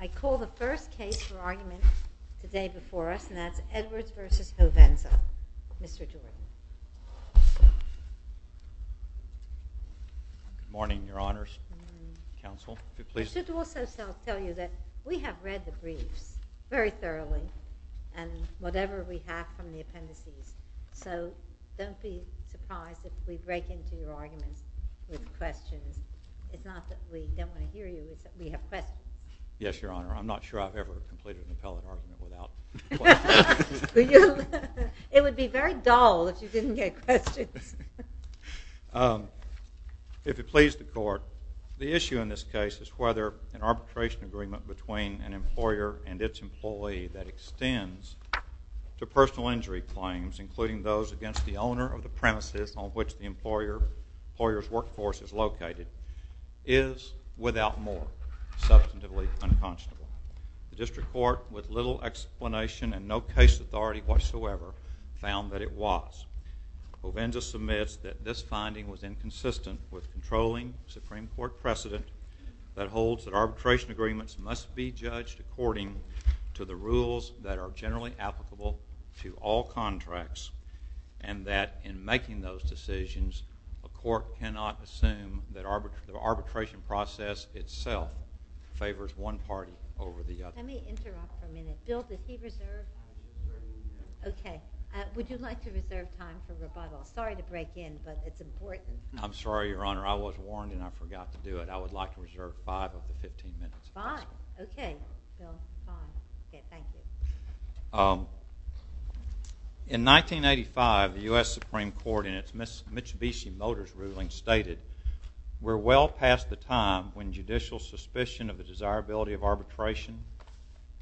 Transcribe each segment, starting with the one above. I call the first case for argument today before us, and that's Edwards v. Hovensa. Mr. Jordan. Good morning, Your Honors. Counsel, if you please. I should also tell you that we have read the briefs very thoroughly, and whatever we have from the appendices. So don't be surprised if we break into your arguments with questions. It's not that we don't want to hear you, it's that we have questions. Yes, Your Honor. I'm not sure I've ever completed an appellate argument without questions. It would be very dull if you didn't get questions. If it pleases the Court, the issue in this case is whether an arbitration agreement between an employer and its employee that extends to personal injury claims, including those against the owner of the premises on which the employer's workforce is located, is, without more, substantively unconscionable. The District Court, with little explanation and no case authority whatsoever, found that it was. Hovensa submits that this finding was inconsistent with controlling Supreme Court precedent that holds that arbitration agreements must be judged according to the rules that are generally applicable to all contracts, and that, in making those decisions, a court cannot assume that the arbitration process itself favors one party over the other. Let me interrupt for a minute. Bill, did he reserve time? Yes. Okay. Would you like to reserve time for rebuttal? Sorry to break in, but it's important. I'm sorry, Your Honor. I was warned and I forgot to do it. I would like to reserve five of the 15 minutes. Fine. Okay, Bill. Fine. Okay, thank you. In 1985, the U.S. Supreme Court, in its Mitsubishi Motors ruling, stated, We're well past the time when judicial suspicion of the desirability of arbitration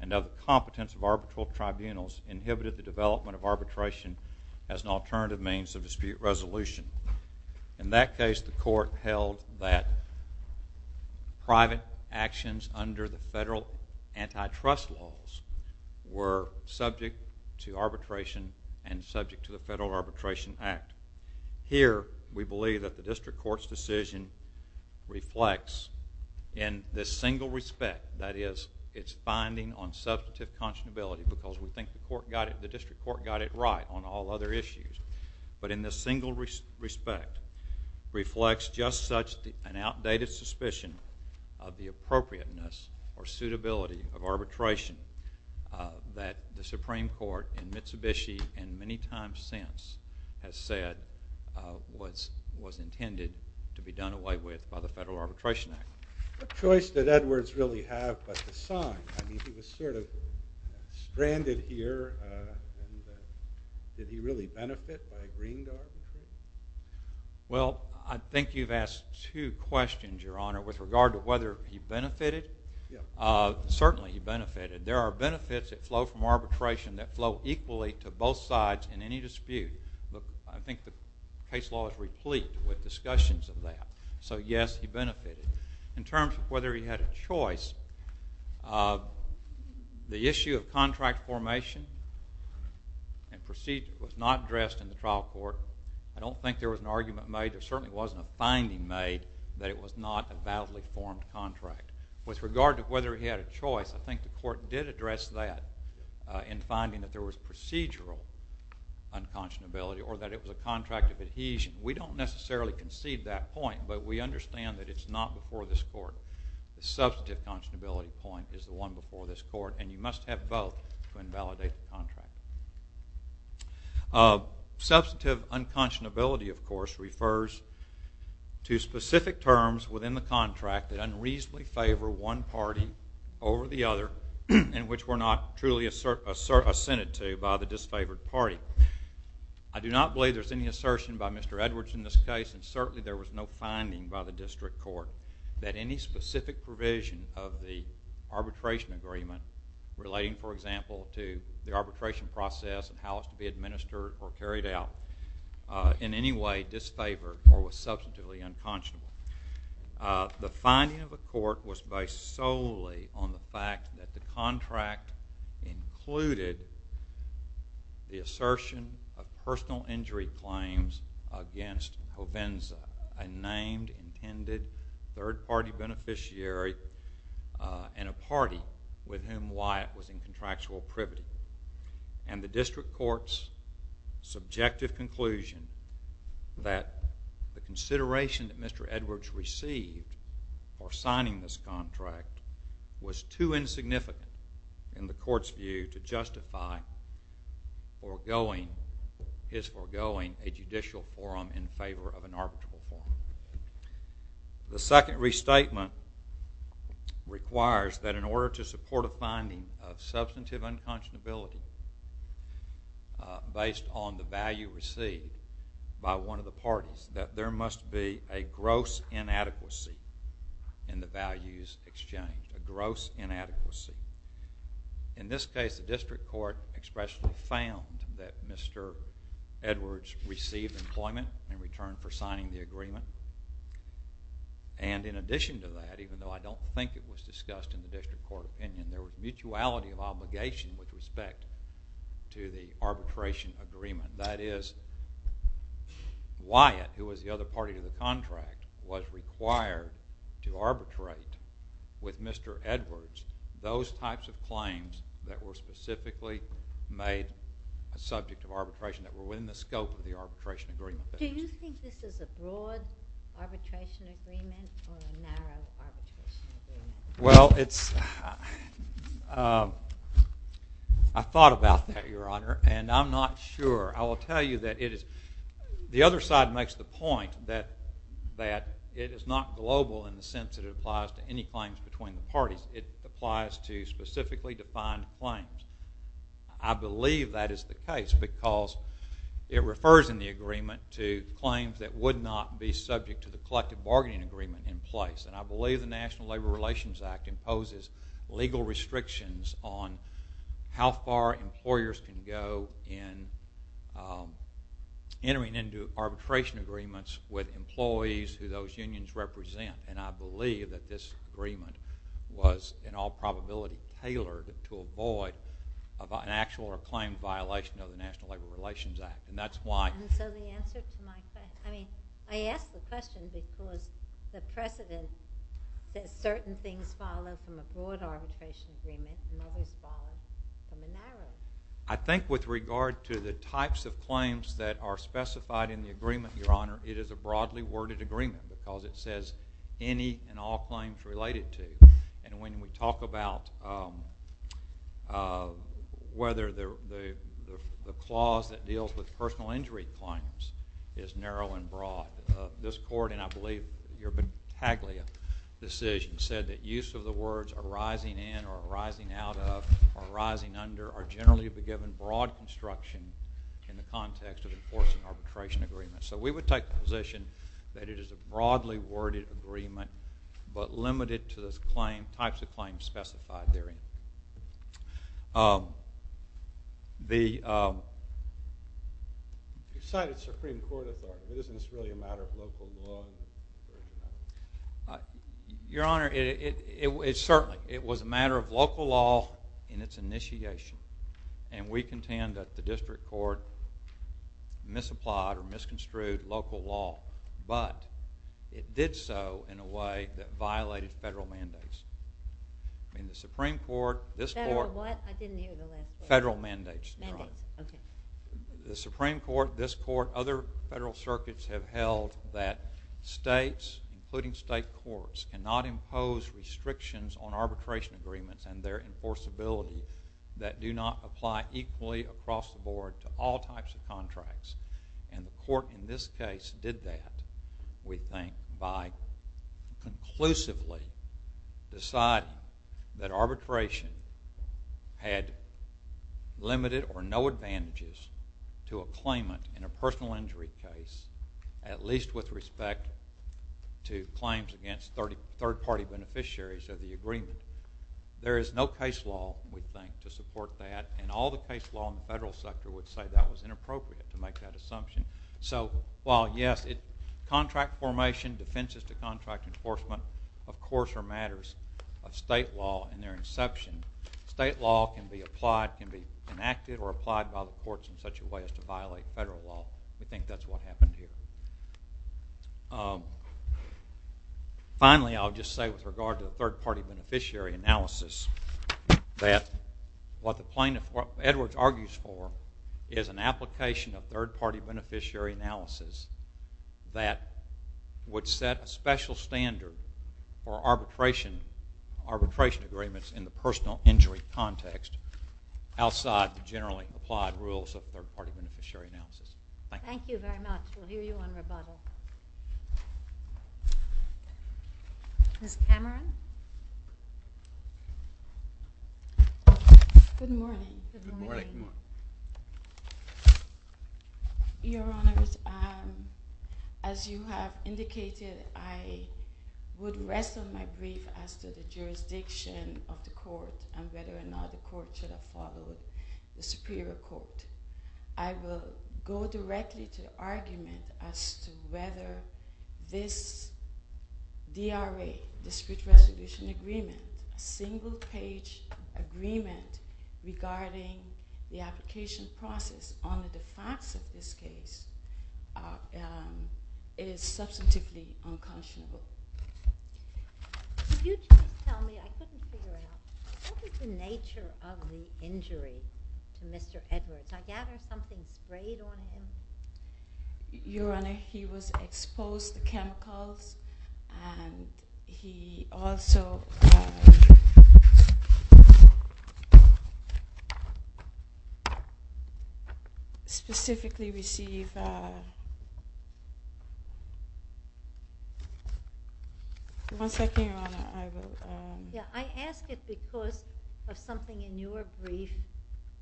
and of the competence of arbitral tribunals inhibited the development of arbitration as an alternative means of dispute resolution. In that case, the court held that private actions under the federal antitrust laws were subject to arbitration and subject to the Federal Arbitration Act. Here, we believe that the district court's decision reflects, in this single respect, that is, its finding on substantive conscionability, because we think the district court got it right on all other issues. But in this single respect, reflects just such an outdated suspicion of the appropriateness or suitability of arbitration that the Supreme Court in Mitsubishi, and many times since, has said was intended to be done away with by the Federal Arbitration Act. What choice did Edwards really have but to sign? I mean, he was sort of stranded here, and did he really benefit by agreeing to arbitration? Well, I think you've asked two questions, Your Honor, with regard to whether he benefited. Certainly, he benefited. There are benefits that flow from arbitration that flow equally to both sides in any dispute. But I think the case law is replete with discussions of that. So, yes, he benefited. In terms of whether he had a choice, the issue of contract formation and procedure was not addressed in the trial court. I don't think there was an argument made. There certainly wasn't a finding made that it was not a validly formed contract. With regard to whether he had a choice, I think the court did address that in finding that there was procedural unconscionability or that it was a contract of adhesion. We don't necessarily concede that point, but we understand that it's not before this court. The substantive conscionability point is the one before this court, and you must have both to invalidate the contract. Substantive unconscionability, of course, refers to specific terms within the contract that unreasonably favor one party over the other and which were not truly assented to by the disfavored party. I do not believe there's any assertion by Mr. Edwards in this case, and certainly there was no finding by the district court that any specific provision of the arbitration agreement relating, for example, to the arbitration process and how it's to be administered or carried out in any way disfavored or was substantively unconscionable. The finding of the court was based solely on the fact that the contract included the assertion of personal injury claims against Provenza, a named, intended third-party beneficiary and a party with whom Wyatt was in contractual privity. And the district court's subjective conclusion that the consideration that Mr. Edwards received for signing this contract was too insignificant in the court's view to justify his forgoing a judicial forum in favor of an arbitral forum. The second restatement requires that in order to support a finding of substantive unconscionability based on the value received by one of the parties, that there must be a gross inadequacy in the values exchanged, a gross inadequacy. In this case, the district court expressly found that Mr. Edwards received employment in return for signing the agreement. And in addition to that, even though I don't think it was discussed in the district court opinion, there was mutuality of obligation with respect to the arbitration agreement. That is, Wyatt, who was the other party to the contract, was required to arbitrate with Mr. Edwards those types of claims that were specifically made a subject of arbitration that were within the scope of the arbitration agreement. Do you think this is a broad arbitration agreement or a narrow arbitration agreement? Well, I thought about that, Your Honor, and I'm not sure. I will tell you that the other side makes the point that it is not global in the sense that it applies to any claims between the parties. It applies to specifically defined claims. I believe that is the case because it refers in the agreement to claims that would not be subject to the collective bargaining agreement in place. And I believe the National Labor Relations Act imposes legal restrictions on how far employers can go in entering into arbitration agreements with employees who those unions represent. And I believe that this agreement was in all probability tailored to avoid an actual or claimed violation of the National Labor Relations Act. And so the answer to my question, I mean, I ask the question because the precedent that certain things follow from a broad arbitration agreement and others follow from a narrow one. I think with regard to the types of claims that are specified in the agreement, Your Honor, it is a broadly worded agreement because it says any and all claims related to. And when we talk about whether the clause that deals with personal injury claims is narrow and broad, this court, and I believe your battaglia decision said that use of the words arising in or arising out of or arising under are generally given broad construction in the context of enforcing arbitration agreements. So we would take the position that it is a broadly worded agreement but limited to the types of claims specified therein. You cited Supreme Court authority. Isn't this really a matter of local law? Your Honor, it certainly was a matter of local law in its initiation. And we contend that the district court misapplied or misconstrued local law. But it did so in a way that violated federal mandates. Federal what? I didn't hear the last part. Federal mandates, Your Honor. Mandates, okay. The Supreme Court, this court, other federal circuits have held that states, including state courts, cannot impose restrictions on arbitration agreements and their enforceability that do not apply equally across the board to all types of contracts. And the court in this case did that, we think, by conclusively deciding that arbitration had limited or no advantages to a claimant in a personal injury case, at least with respect to claims against third-party beneficiaries of the agreement. There is no case law, we think, to support that. And all the case law in the federal sector would say that was inappropriate to make that assumption. So while, yes, contract formation, defenses to contract enforcement, of course, are matters of state law in their inception, state law can be applied, can be enacted or applied by the courts in such a way as to violate federal law. We think that's what happened here. Finally, I'll just say with regard to the third-party beneficiary analysis that what the plaintiff, what Edwards argues for is an application of third-party beneficiary analysis that would set a special standard for arbitration agreements in the personal injury context outside the generally applied rules of third-party beneficiary analysis. Thank you. Thank you very much. We'll hear you on rebuttal. Ms. Cameron? Good morning. Good morning. Your Honors, as you have indicated, I would rest on my grief as to the jurisdiction of the court and whether or not the court should have followed the superior court. I will go directly to argument as to whether this DRA, discrete resolution agreement, single-page agreement regarding the application process on the facts of this case, is substantively unconscionable. Could you please tell me, I couldn't figure it out, what is the nature of the injury to Mr. Edwards? I gather something sprayed on him? Your Honor, he was exposed to chemicals and he also specifically received... One second, Your Honor, I will... I ask it because of something in your brief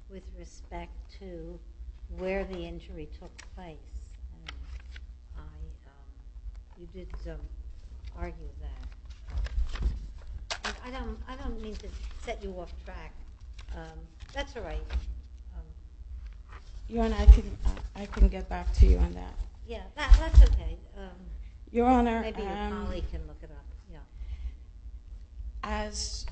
with respect to where the injury took place. You did argue that. I don't mean to set you off track. That's all right. Your Honor, I can get back to you on that. Yeah, that's okay. Your Honor, as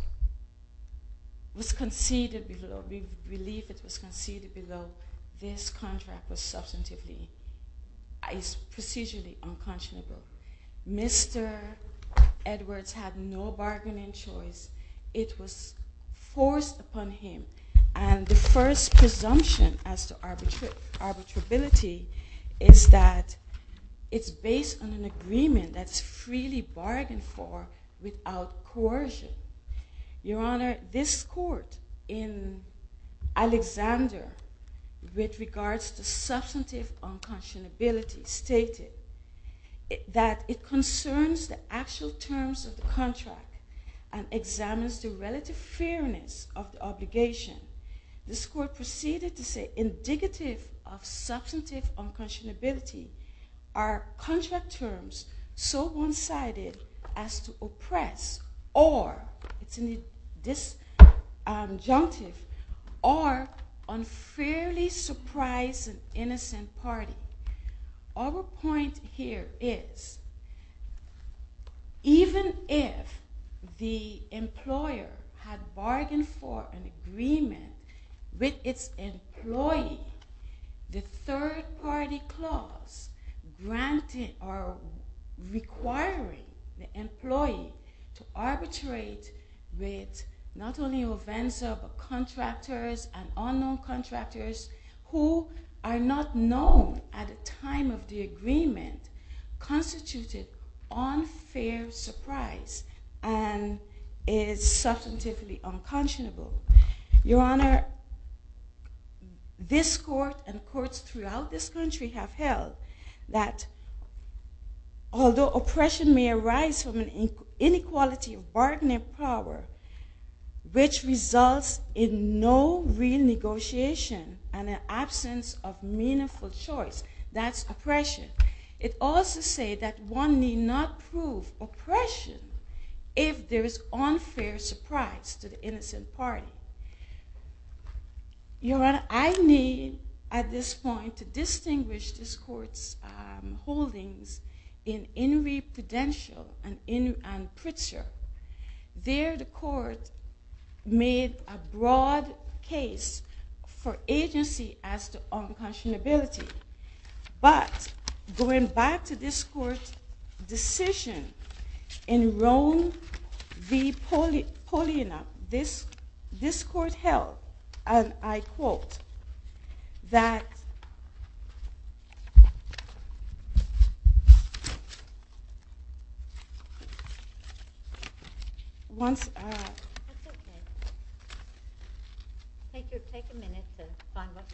was conceded below, we believe it was conceded below, this contract is procedurally unconscionable. Mr. Edwards had no bargaining choice. It was forced upon him. And the first presumption as to arbitrability is that it's based on an agreement that's freely bargained for without coercion. Your Honor, this court in Alexander with regards to substantive unconscionability stated that it concerns the actual terms of the contract and examines the relative fairness of the obligation. This court proceeded to say indicative of substantive unconscionability are contract terms so one-sided as to oppress or unfairly surprise an innocent party. Our point here is even if the employer had bargained for an agreement with its employee, the third-party clause granting or requiring the employee to arbitrate with not only OVENSA but contractors and unknown contractors who are not known at the time of the agreement constituted unfair surprise and is substantively unconscionable. Your Honor, this court and courts throughout this country have held that although oppression may arise from an inequality of bargaining power which results in no real negotiation and an absence of meaningful choice, that's oppression. It also says that one need not prove oppression if there is unfair surprise to the innocent party. Your Honor, I need at this point to distinguish this court's holdings in Inouye Prudential and Pritzker. There the court made a broad case for agency as to unconscionability but going back to this court's decision in Rome v. Polina, this court held, and I quote, that once... That's okay. Take a minute to find what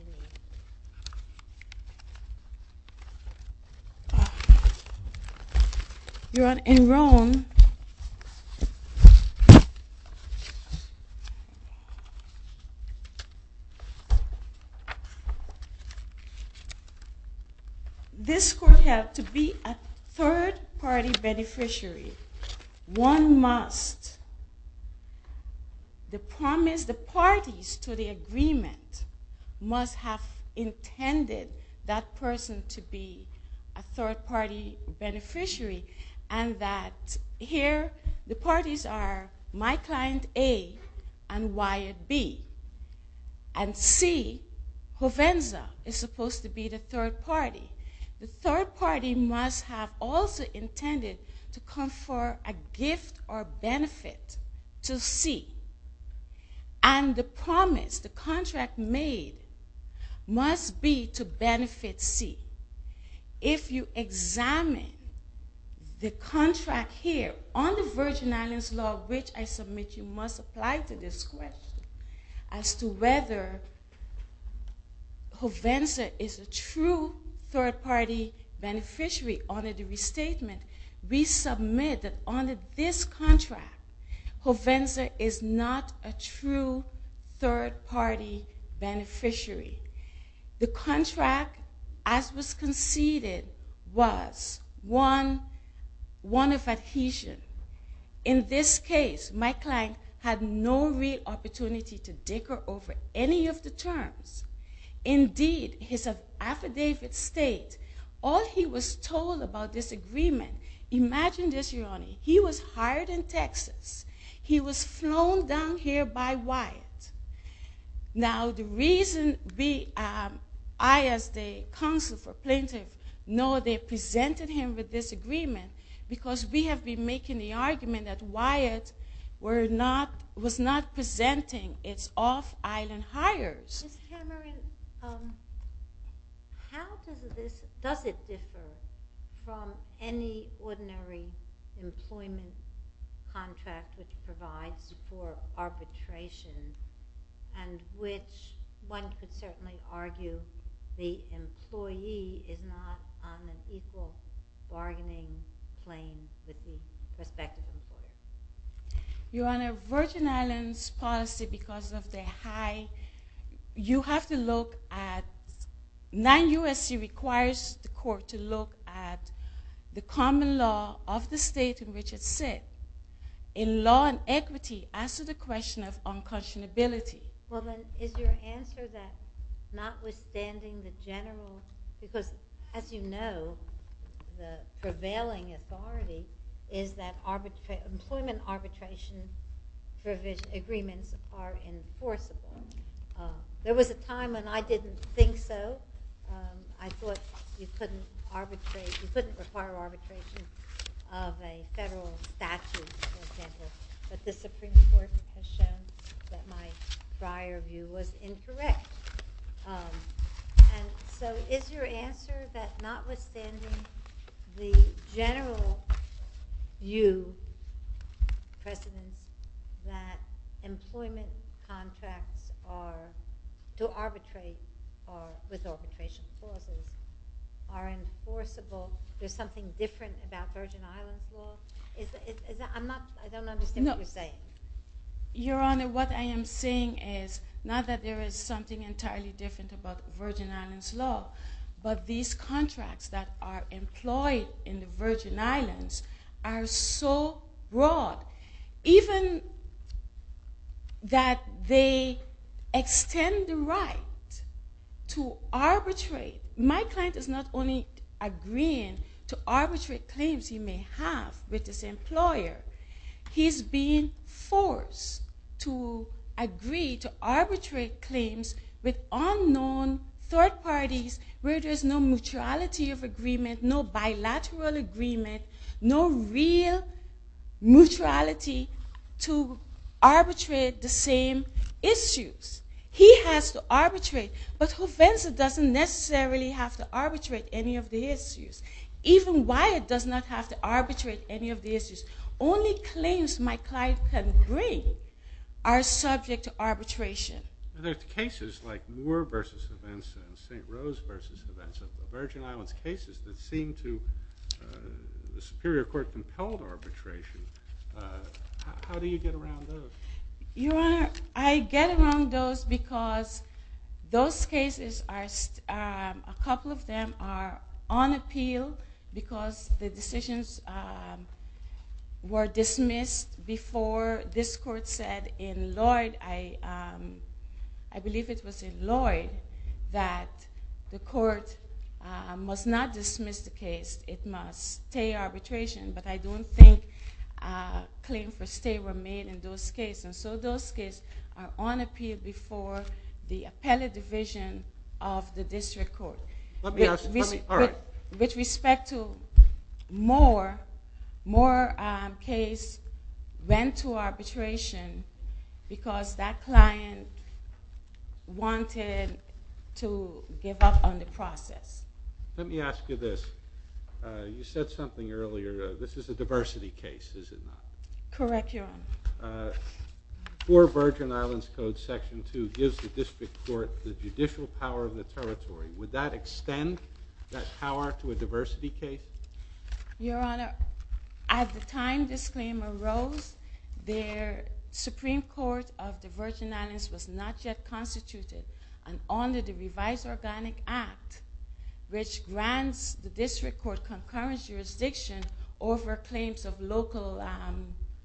you need. Your Honor, in Rome... This court held to be a third-party beneficiary. One must promise the parties to the agreement must have intended that person to be a third-party beneficiary and that here the parties are my client A and Wyatt B. And C, Provenza, is supposed to be the third party. The third party must have also intended to confer a gift or benefit to C. And the promise, the contract made, must be to benefit C. If you examine the contract here on the Virgin Islands Law, which I submit you must apply to this question, as to whether Provenza is a true third-party beneficiary, under the restatement, we submit that under this contract Provenza is not a true third-party beneficiary. The contract as was conceded was one of adhesion. In this case, my client had no real opportunity to dicker over any of the terms. Indeed, his affidavit states, all he was told about this agreement... Imagine this, Your Honor. He was hired in Texas. He was flown down here by Wyatt. Now, the reason I, as the counsel for plaintiff, know they presented him with this agreement because we have been making the argument that Wyatt was not presenting its off-island hires. Ms. Cameron, how does it differ from any ordinary employment contract which provides for arbitration and which one could certainly argue the employee is not on an equal bargaining plane with the respective employer? Your Honor, Virgin Islands policy, because of the high... You have to look at... Non-USC requires the court to look at the common law of the state in which it sits. In law and equity, as to the question of unconscionability... Well, then, is your answer that notwithstanding the general... Because, as you know, the prevailing authority is that employment arbitration agreements are enforceable. There was a time when I didn't think so. I thought you couldn't require arbitration of a federal statute, for example. But the Supreme Court has shown that my prior view was incorrect. And so, is your answer that notwithstanding the general view, President, that employment contracts to arbitrate with arbitration clauses are enforceable, there's something different about Virgin Islands law? I don't understand what you're saying. Your Honor, what I am saying is, not that there is something entirely different about Virgin Islands law, but these contracts that are employed in the Virgin Islands are so broad, even that they extend the right to arbitrate. My client is not only agreeing to arbitrate claims he may have with his employer. He's being forced to agree to arbitrate claims with unknown third parties where there's no mutuality of agreement, no bilateral agreement, no real mutuality to arbitrate the same issues. He has to arbitrate, but Juvenza doesn't necessarily have to arbitrate any of the issues. Even Wyatt does not have to arbitrate any of the issues. Only claims my client can agree are subject to arbitration. There are cases like Moore v. Juvenza and St. Rose v. Juvenza, Virgin Islands cases that seem to the Superior Court compelled arbitration. How do you get around those? Your Honor, I get around those because those cases, a couple of them are on appeal because the decisions were dismissed before this Court said in Lloyd, I believe it was in Lloyd, that the Court must not dismiss the case. It must stay arbitration, but I don't think claims for stay were made in those cases. So those cases are on appeal before the appellate division of the District Court. With respect to Moore, Moore's case went to arbitration because that client wanted to give up on the process. Let me ask you this. You said something earlier. This is a diversity case, is it not? Correct, Your Honor. Before Virgin Islands Code Section 2 gives the District Court the judicial power of the territory, would that extend that power to a diversity case? Your Honor, at the time this claim arose, the Supreme Court of the Virgin Islands was not yet constituted under the Revised Organic Act, which grants the District Court concurrent jurisdiction over claims of local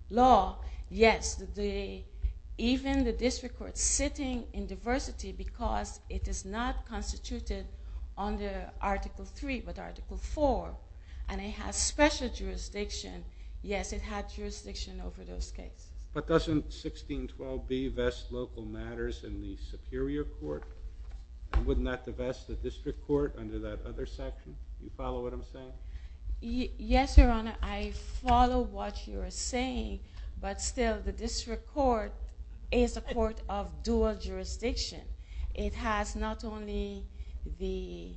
law. Yes, even the District Court is sitting in diversity because it is not constituted under Article 3 but Article 4, and it has special jurisdiction. Yes, it had jurisdiction over those cases. But doesn't 1612b vest local matters in the Superior Court? Wouldn't that divest the District Court under that other section? Do you follow what I'm saying? Yes, Your Honor, I follow what you are saying, but still the District Court is a court of dual jurisdiction. It has not only the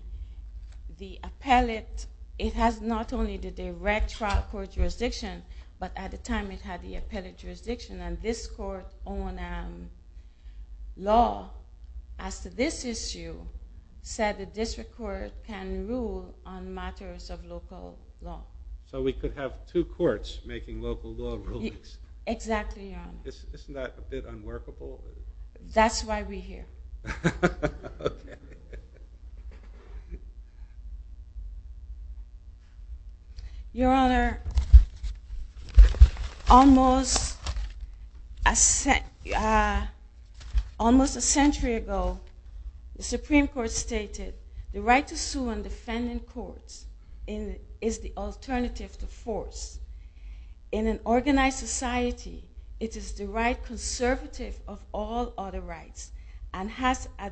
appellate, it has not only the direct trial court jurisdiction, but at the time it had the appellate jurisdiction, and this court on law as to this issue said the District Court can rule on matters of local law. So we could have two courts making local law rulings. Exactly, Your Honor. Isn't that a bit unworkable? That's why we're here. Okay. Your Honor, almost a century ago, the Supreme Court stated the right to sue on defending courts is the alternative to force. In an organized society, it is the right conservative of all other rights and has as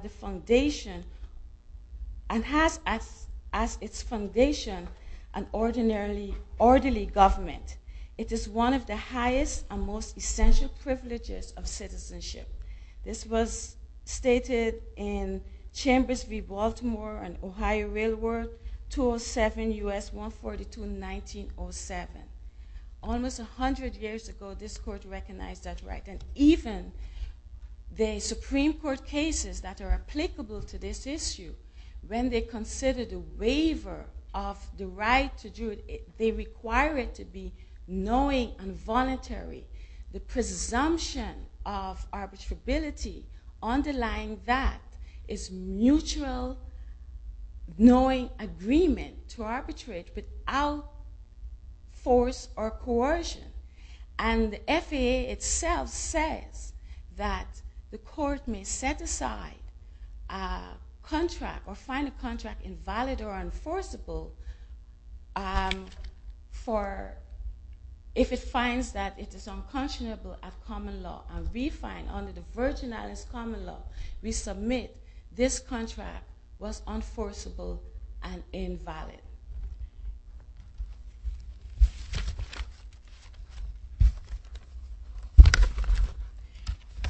its foundation an orderly government. It is one of the highest and most essential privileges of citizenship. This was stated in Chambers v. Baltimore and Ohio Railroad, 207 U.S. 142, 1907. Almost 100 years ago, this court recognized that right, and even the Supreme Court cases that are applicable to this issue, when they consider the waiver of the right to do it, they require it to be knowing and voluntary. The presumption of arbitrability underlying that is mutual knowing agreement to arbitrate without force or coercion. And the FAA itself says that the court may set aside a contract or find a contract invalid or unforceable if it finds that it is unconscionable of common law. And we find under the Virgin Islands Common Law, we submit this contract was unforceable and invalid.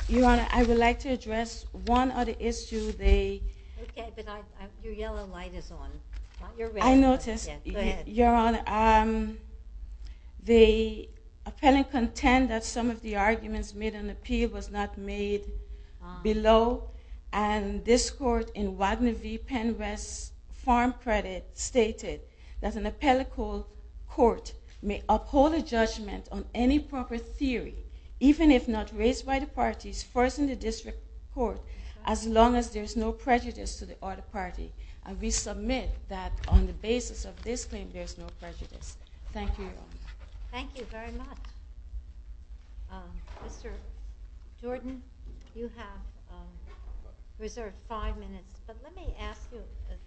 Your Honor, I would like to address one other issue. Okay, but your yellow light is on. I noticed, Your Honor, the appellant contends that some of the arguments made in the appeal was not made below, and this court in Wagner v. Penwest Farm Credit stated that an appellate court may uphold a judgment on any proper theory, even if not raised by the parties first in the district court, as long as there is no prejudice to the other party. And we submit that on the basis of this claim, there is no prejudice. Thank you, Your Honor. Thank you very much. Mr. Jordan, you have reserved five minutes, but let me ask you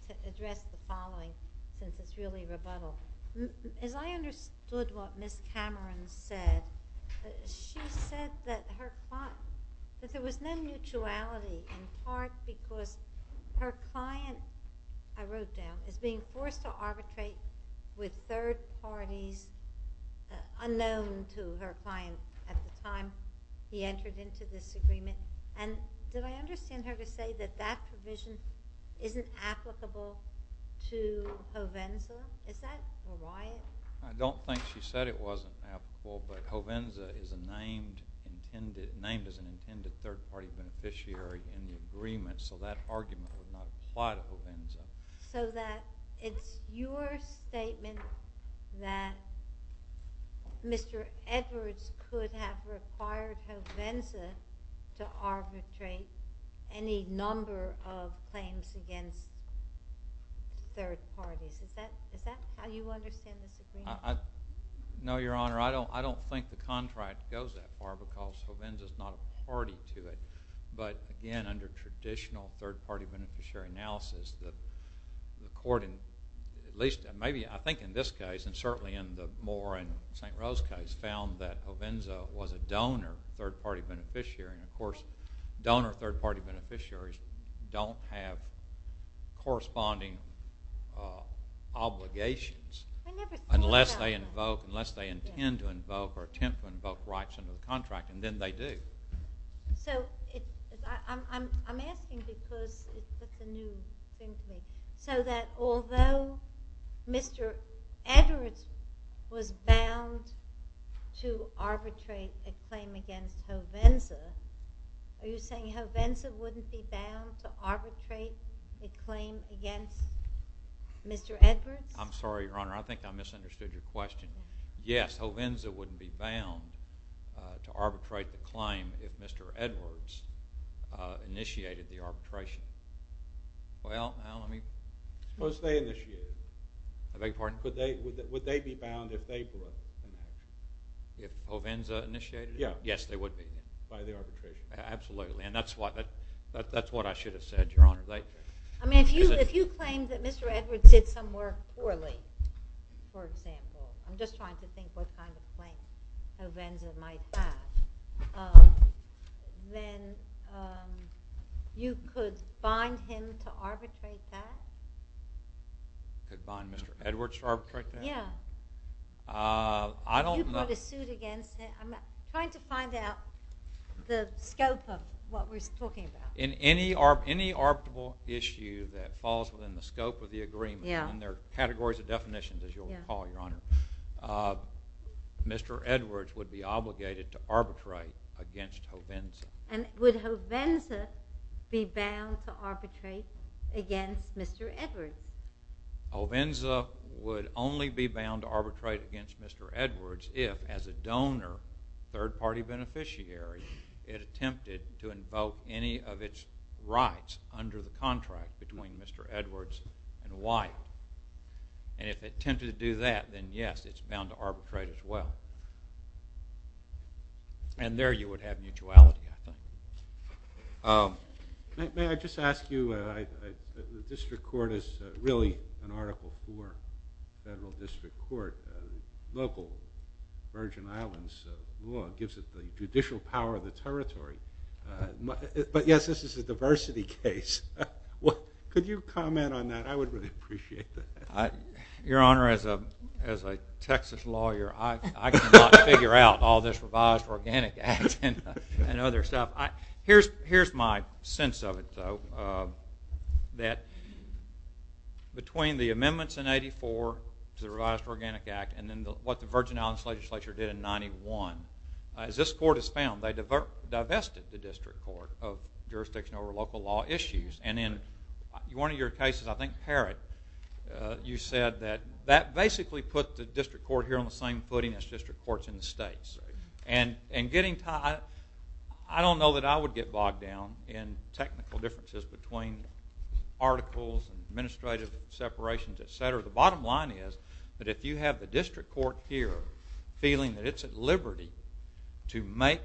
to address the following, since it's really a rebuttal. As I understood what Ms. Cameron said, she said that there was no mutuality, in part because her client, I wrote down, is being forced to arbitrate with third parties unknown to her client at the time he entered into this agreement. And did I understand her to say that that provision isn't applicable to Provenza? Is that why? I don't think she said it wasn't applicable, but Provenza is named as an intended third-party beneficiary in the agreement, so that argument would not apply to Provenza. So that it's your statement that Mr. Edwards could have required Provenza to arbitrate any number of claims against third parties. Is that how you understand this agreement? No, Your Honor. I don't think the contract goes that far because Provenza is not a party to it. But again, under traditional third-party beneficiary analysis, the court, at least maybe I think in this case, and certainly in the Moore and St. Rose case, found that Provenza was a donor third-party beneficiary. Of course, donor third-party beneficiaries don't have corresponding obligations unless they intend to invoke or attempt to invoke rights under the contract, and then they do. So I'm asking because it's just a new thing. So that although Mr. Edwards was bound to arbitrate a claim against Provenza, are you saying Provenza wouldn't be bound to arbitrate a claim against Mr. Edwards? I'm sorry, Your Honor. I think I misunderstood your question. Yes, Provenza wouldn't be bound to arbitrate the claim if Mr. Edwards initiated the arbitration. Well, I don't know. What if they initiated it? I beg your pardon? Would they be bound if they were? If Provenza initiated it? Yes, they would be bound by the arbitration. Absolutely, and that's what I should have said, Your Honor. I mean, if you claim that Mr. Edwards did some work poorly, for example, I'm just trying to think what kind of claims Provenza might have, then you could bind him to arbitrate that? I could bind Mr. Edwards to arbitrate that? Yeah. I don't know. I'm trying to find out the scope of what we're talking about. In any arbitrable issue that falls within the scope of the agreement, and there are categories of definitions, as you'll recall, Your Honor, Mr. Edwards would be obligated to arbitrate against Provenza. And would Provenza be bound to arbitrate against Mr. Edwards? Provenza would only be bound to arbitrate against Mr. Edwards if, as a donor, third-party beneficiary, it attempted to invoke any of its rights under the contract between Mr. Edwards and White. And if it attempted to do that, then yes, it's bound to arbitrate as well. And there you would have mutuality. May I just ask you, the district court is really an article for federal district court. Local Virgin Islands law gives it the judicial power of the territory. But yes, this is a diversity case. Could you comment on that? I would really appreciate that. Your Honor, as a Texas lawyer, I cannot figure out all this revised organic act and other stuff. Here's my sense of it, though, that between the amendments in 84 to the revised organic act and then what the Virgin Islands legislature did in 91, as this court has found, they divested the district court of jurisdiction over local law issues. And in one of your cases, I think, Parrott, you said that that basically put the district court here on the same footing as district courts in the states. And getting to that, I don't know that I would get bogged down in technical differences between articles and administrative separations, et cetera. The bottom line is that if you have the district court here feeling that it's at liberty to make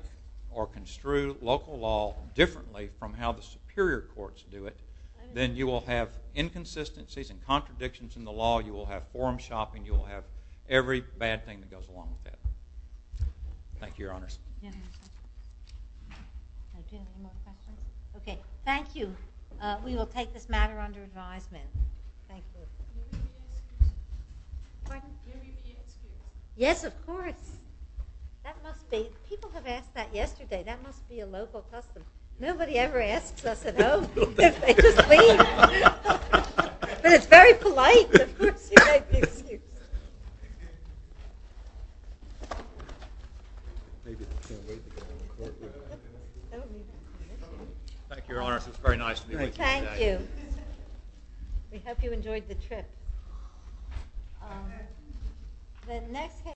or construe local law differently from how the superior courts do it, then you will have inconsistencies and contradictions in the law. You will have forum shopping. You will have every bad thing that goes along with that. Thank you, Your Honors. Okay, thank you. We will take this matter under advisement. Thank you. Yes, of course. That must be, people have asked that yesterday. That must be a local custom. Nobody ever asks us at home if they just leave. But it's very polite. Of course you make the excuse. Thank you. Thank you, Your Honors. It was very nice to be with you today. Thank you. We hope you enjoyed the trip.